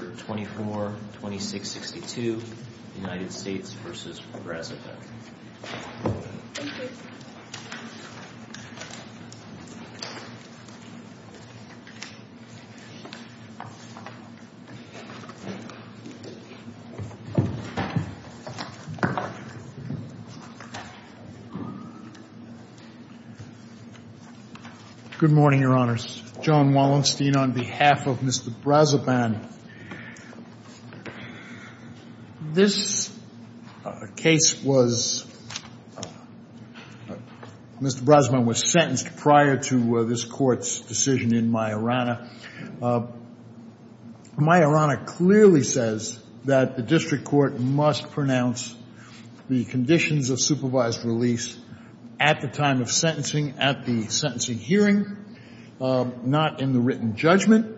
Good morning, Your Honors. John Wallenstein on behalf of Mr. Brazoban. This case was, Mr. Brazoban was sentenced prior to this Court's decision in Majorana. Majorana clearly says that the district court must pronounce the conditions of supervised release at the time of sentencing, at the sentencing hearing, not in the written judgment.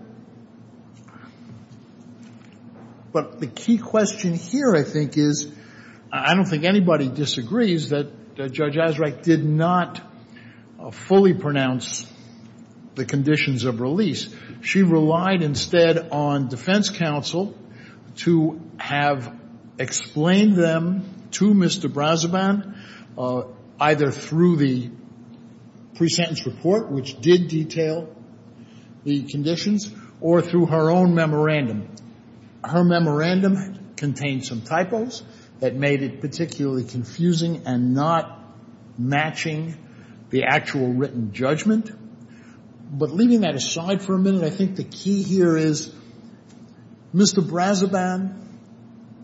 But the key question here, I think, is, I don't think anybody disagrees that Judge Azraq did not fully pronounce the conditions of release. She relied instead on defense counsel to have explained them to Mr. Brazoban either through the pre-sentence report, which did detail the conditions, or through her own memorandum. Her memorandum contained some typos that made it particularly confusing and not matching the actual written judgment. But leaving that aside for a minute, I think the key here is, Mr. Brazoban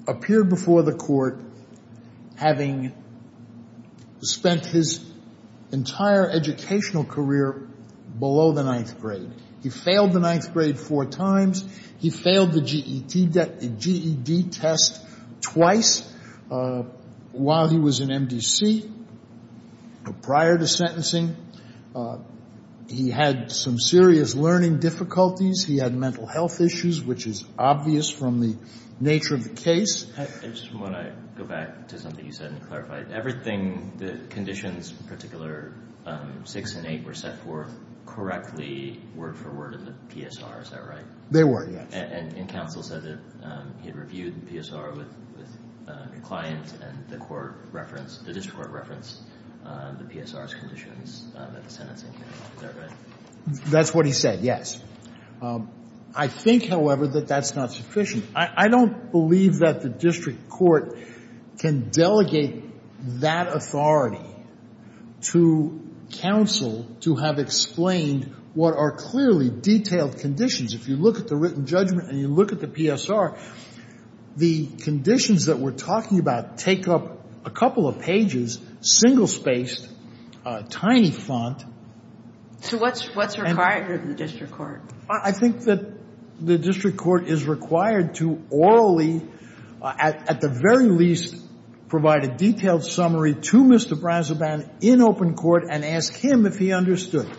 appeared before the Court having spent his entire educational career below the ninth grade. He failed the ninth grade four times. He failed the GED test twice while he was in MDC prior to sentencing. He had some serious learning difficulties. He had mental health issues, which is obvious from the nature of the case. I just want to go back to something you said and clarify it. Everything, the conditions, particular 6 and 8, were set forth correctly word for word in the PSR, is that right? They were, yes. And counsel said that he had reviewed the PSR with the client and the court referenced, the district court referenced the PSR's conditions at the sentencing hearing. Is that right? That's what he said, yes. I think, however, that that's not sufficient. I don't believe that the district court can delegate that authority to counsel to have explained what are clearly detailed conditions. If you look at the written judgment and you look at the PSR, the conditions that we're talking about take up a couple of pages, single-spaced, tiny font. So what's required of the district court? I think that the district court is required to orally, at the very least, provide a detailed summary to Mr. Brazoban in open court and ask him if he understood.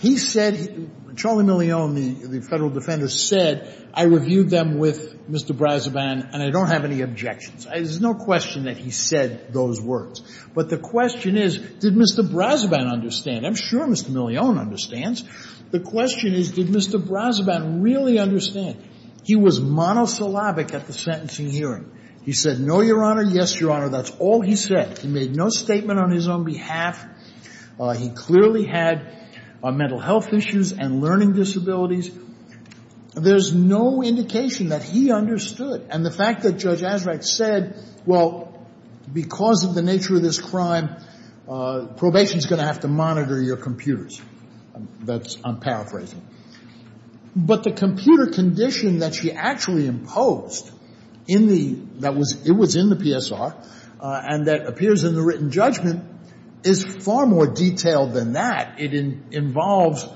He said, Charlie Millione, the Federal Defender, said, I reviewed them with Mr. Brazoban and I don't have any objections. There's no question that he said those words. But the question is, did Mr. Brazoban understand? I'm sure Mr. Millione understands. The question is, did Mr. Brazoban really understand? He was monosyllabic at the sentencing hearing. He said, no, Your Honor, yes, Your Honor. That's all he said. He made no statement on his own behalf. He clearly had mental health issues and learning disabilities. There's no indication that he understood. And the fact that Judge Azraq said, well, because of the nature of this crime, probation is going to have to monitor your computers. That's unparaphrasing. But the computer condition that she actually imposed in the – that was – it was in the PSR and that appears in the written judgment is far more detailed than that. It involves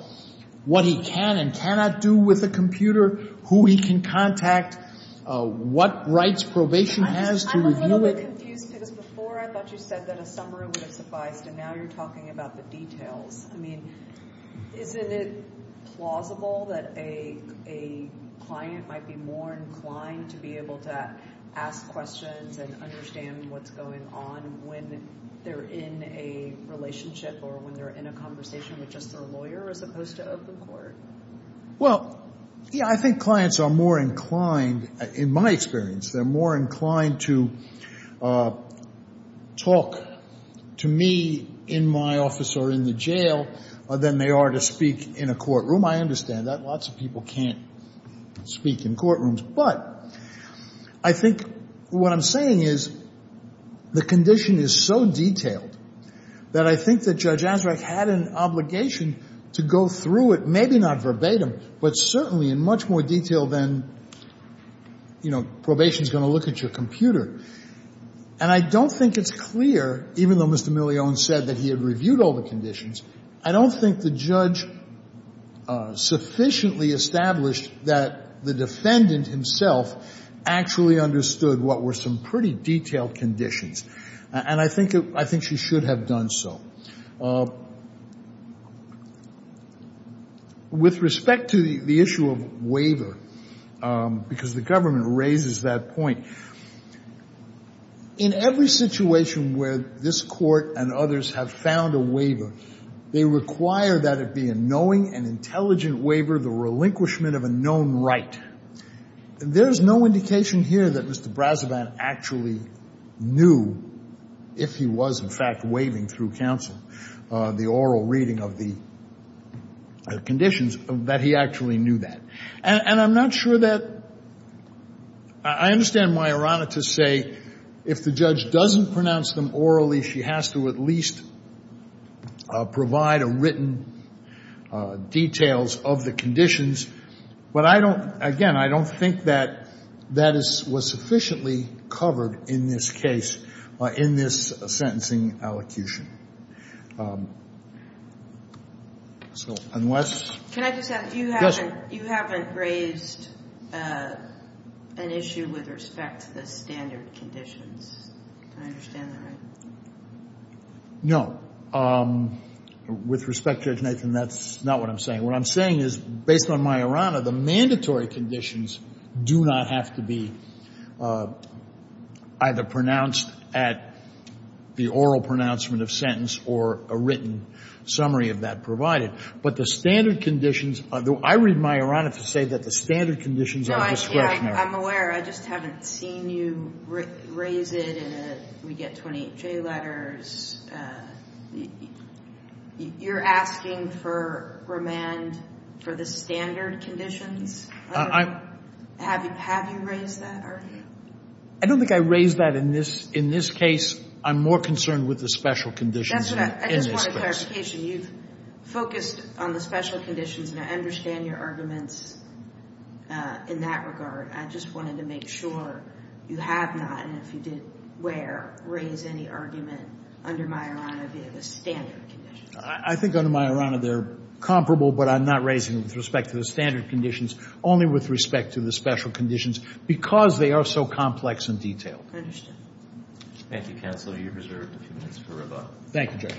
what he can and cannot do with a computer, who he can contact, what rights probation has to review it. I'm a little bit confused because before I thought you said that a summary would have sufficed and now you're talking about the details. I mean, isn't it plausible that a client might be more inclined to be able to ask questions and understand what's going on when they're in a relationship or when they're in a conversation with just their lawyer as opposed to open court? Well, I think clients are more inclined – in my experience, they're more inclined to talk to me in my office or in the jail than they are to speak in a courtroom. I understand that. Lots of people can't speak in courtrooms. But I think what I'm saying is the condition is so detailed that I think that Judge Ansreich had an obligation to go through it, maybe not verbatim, but certainly in much more detail than, you know, probation's going to look at your computer. And I don't think it's clear, even though Mr. Milione said that he had reviewed all the conditions, I don't think the judge sufficiently established that the defendant himself actually understood what were some pretty detailed conditions. And I think she should have done so. With respect to the issue of waiver, because the government raises that point, in every situation where this court and others have found a waiver, they require that it be a knowing and intelligent waiver, the relinquishment of a known right. There's no indication here that Mr. Brazavan actually knew, if he was, in fact, waiving through counsel the oral reading of the conditions, that he actually knew that. And I'm not sure that – I understand my errata to say if the judge doesn't pronounce them orally, she has to at least provide a written details of the conditions. But I don't – again, I don't think that that is – was sufficiently covered in this case, in this sentencing allocution. So unless – Can I just add – Yes. You haven't raised an issue with respect to the standard conditions. Can I understand that right? No. With respect, Judge Nathan, that's not what I'm saying. What I'm saying is, based on my errata, the mandatory conditions do not have to be either pronounced at the oral pronouncement of sentence or a written summary of that provided. But the standard conditions – I read my errata to say that the standard conditions are discretionary. I'm aware. I just haven't seen you raise it in a – we get 28J letters. You're asking for remand for the standard conditions? Have you raised that? I don't think I raised that in this case. I'm more concerned with the special conditions in this case. I just want a clarification. You've focused on the special conditions, and I understand your arguments in that regard. I just wanted to make sure you have not, and if you did, where, raised any argument under my errata via the standard conditions. I think under my errata they're comparable, but I'm not raising them with respect to the standard conditions, only with respect to the special conditions, because they are so complex and detailed. Understood. Thank you, counsel. You're reserved a few minutes for rebuttal. Thank you, Judge.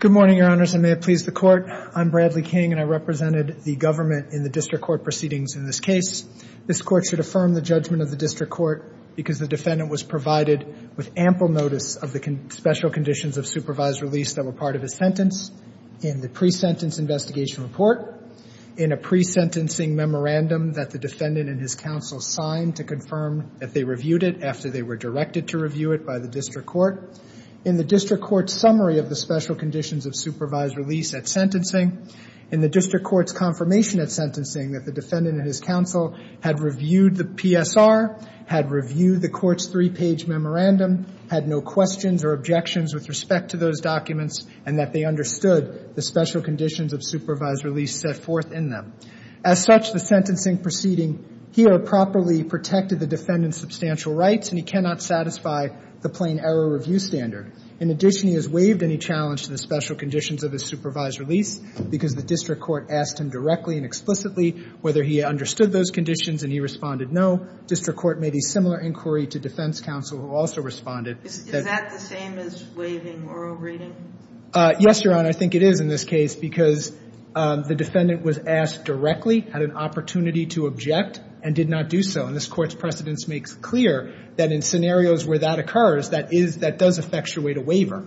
Good morning, Your Honors, and may it please the Court. I'm Bradley King, and I represented the government in the district court proceedings in this case. This Court should affirm the judgment of the district court because the defendant was provided with ample notice of the special conditions of supervised release that were part of his sentence in the presentence investigation report. In a pre-sentencing memorandum that the defendant and his counsel signed to confirm that they reviewed it after they were directed to review it by the district court. In the district court's summary of the special conditions of supervised release at sentencing. In the district court's confirmation at sentencing that the defendant and his counsel had reviewed the PSR, had reviewed the court's three-page memorandum, had no questions or objections with respect to those documents, and that they understood the special conditions of supervised release set forth in them. As such, the sentencing proceeding here properly protected the defendant's substantial rights, and he cannot satisfy the plain error review standard. In addition, he has waived any challenge to the special conditions of his supervised release because the district court asked him directly and explicitly whether he understood those conditions, and he responded no. District court made a similar inquiry to defense counsel, who also responded. Is that the same as waiving oral reading? Yes, Your Honor. I think it is in this case because the defendant was asked directly, had an opportunity to object, and did not do so. And this court's precedence makes clear that in scenarios where that occurs, that does effectuate a waiver.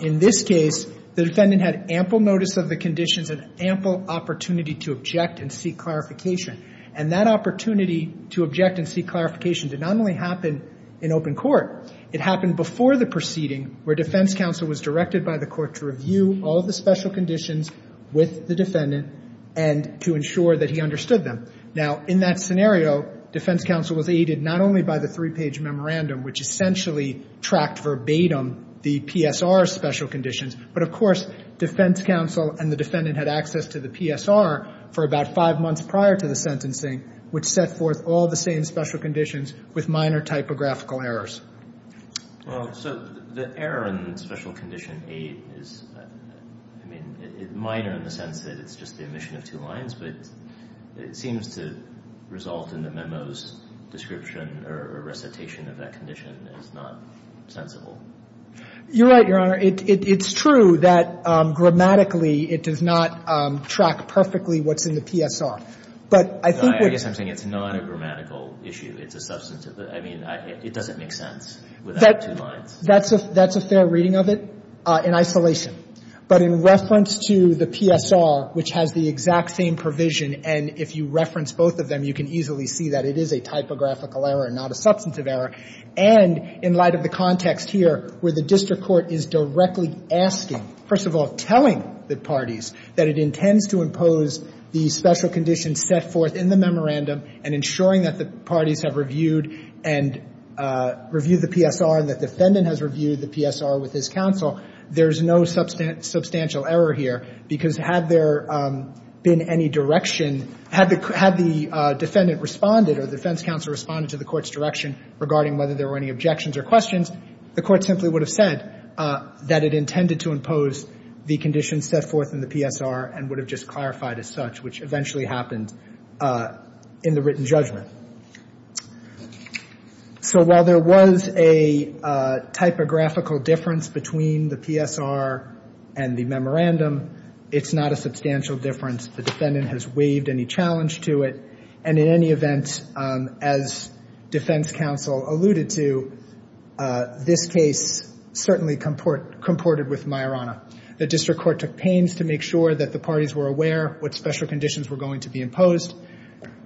In this case, the defendant had ample notice of the conditions and ample opportunity to object and seek clarification. And that opportunity to object and seek clarification did not only happen in open court. It happened before the proceeding where defense counsel was directed by the court to review all the special conditions with the defendant and to ensure that he understood them. Now, in that scenario, defense counsel was aided not only by the three-page memorandum, which essentially tracked verbatim the PSR special conditions, but of course defense counsel and the defendant had access to the PSR for about five months prior to the sentencing, which set forth all the same special conditions with minor typographical errors. Well, so the error in Special Condition 8 is, I mean, minor in the sense that it's just the omission of two lines, but it seems to result in the memo's description or recitation of that condition is not sensible. You're right, Your Honor. It's true that grammatically it does not track perfectly what's in the PSR. I guess I'm saying it's not a grammatical issue. It's a substantive. I mean, it doesn't make sense without two lines. That's a fair reading of it in isolation. But in reference to the PSR, which has the exact same provision, and if you reference both of them, you can easily see that it is a typographical error and not a substantive error, and in light of the context here where the district court is directly asking, first of all, telling the parties that it intends to impose the special conditions set forth in the memorandum and ensuring that the parties have reviewed and reviewed the PSR and the defendant has reviewed the PSR with his counsel, there's no substantial error here, because had there been any direction, had the defendant responded or the defense counsel responded to the court's direction regarding whether there were any objections or questions, the court simply would have said that it intended to impose the conditions set forth in the PSR and would have just clarified as such, which eventually happened in the written judgment. So while there was a typographical difference between the PSR and the memorandum, it's not a substantial difference. The defendant has waived any challenge to it, and in any event, as defense counsel alluded to, this case certainly comported with Majorana. The district court took pains to make sure that the parties were aware what special conditions were going to be imposed.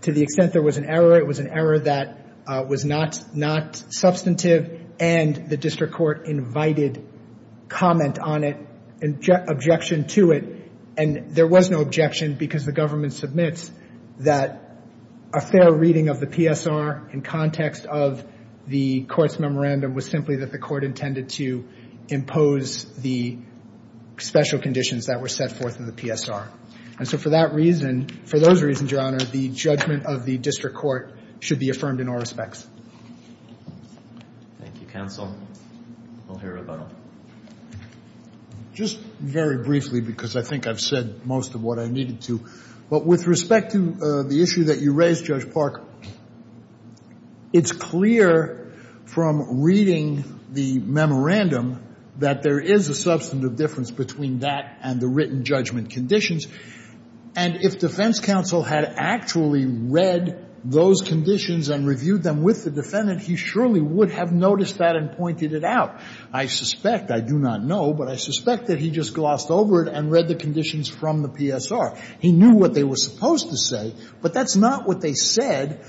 To the extent there was an error, it was an error that was not substantive, and the district court invited comment on it, objection to it, and there was no objection because the government submits that a fair reading of the PSR in context of the court's memorandum was simply that the court intended to impose the special conditions that were set forth in the PSR. And so for that reason, for those reasons, Your Honor, the judgment of the district court should be affirmed in all respects. Thank you, counsel. We'll hear rebuttal. Just very briefly because I think I've said most of what I needed to, but with respect to the issue that you raised, Judge Park, it's clear from reading the memorandum that there is a substantive difference between that and the written judgment conditions. And if defense counsel had actually read those conditions and reviewed them with the defendant, he surely would have noticed that and pointed it out. I suspect, I do not know, but I suspect that he just glossed over it and read the conditions from the PSR. He knew what they were supposed to say, but that's not what they said.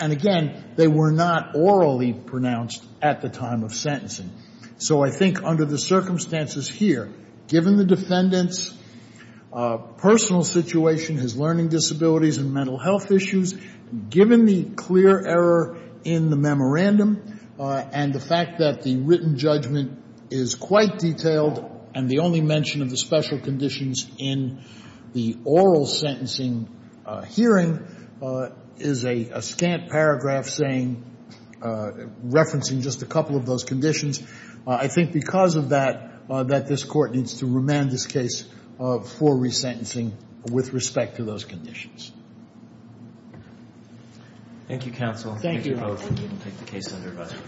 And again, they were not orally pronounced at the time of sentencing. So I think under the circumstances here, given the defendant's personal situation, his learning disabilities and mental health issues, given the clear error in the memorandum and the fact that the written judgment is quite detailed and the only mention of the special conditions in the oral sentencing hearing is a scant paragraph saying, referencing just a couple of those conditions, I think because of that that this Court needs to remand this case for resentencing with respect to those conditions. Thank you, counsel. Thank you both. We will take the case under review.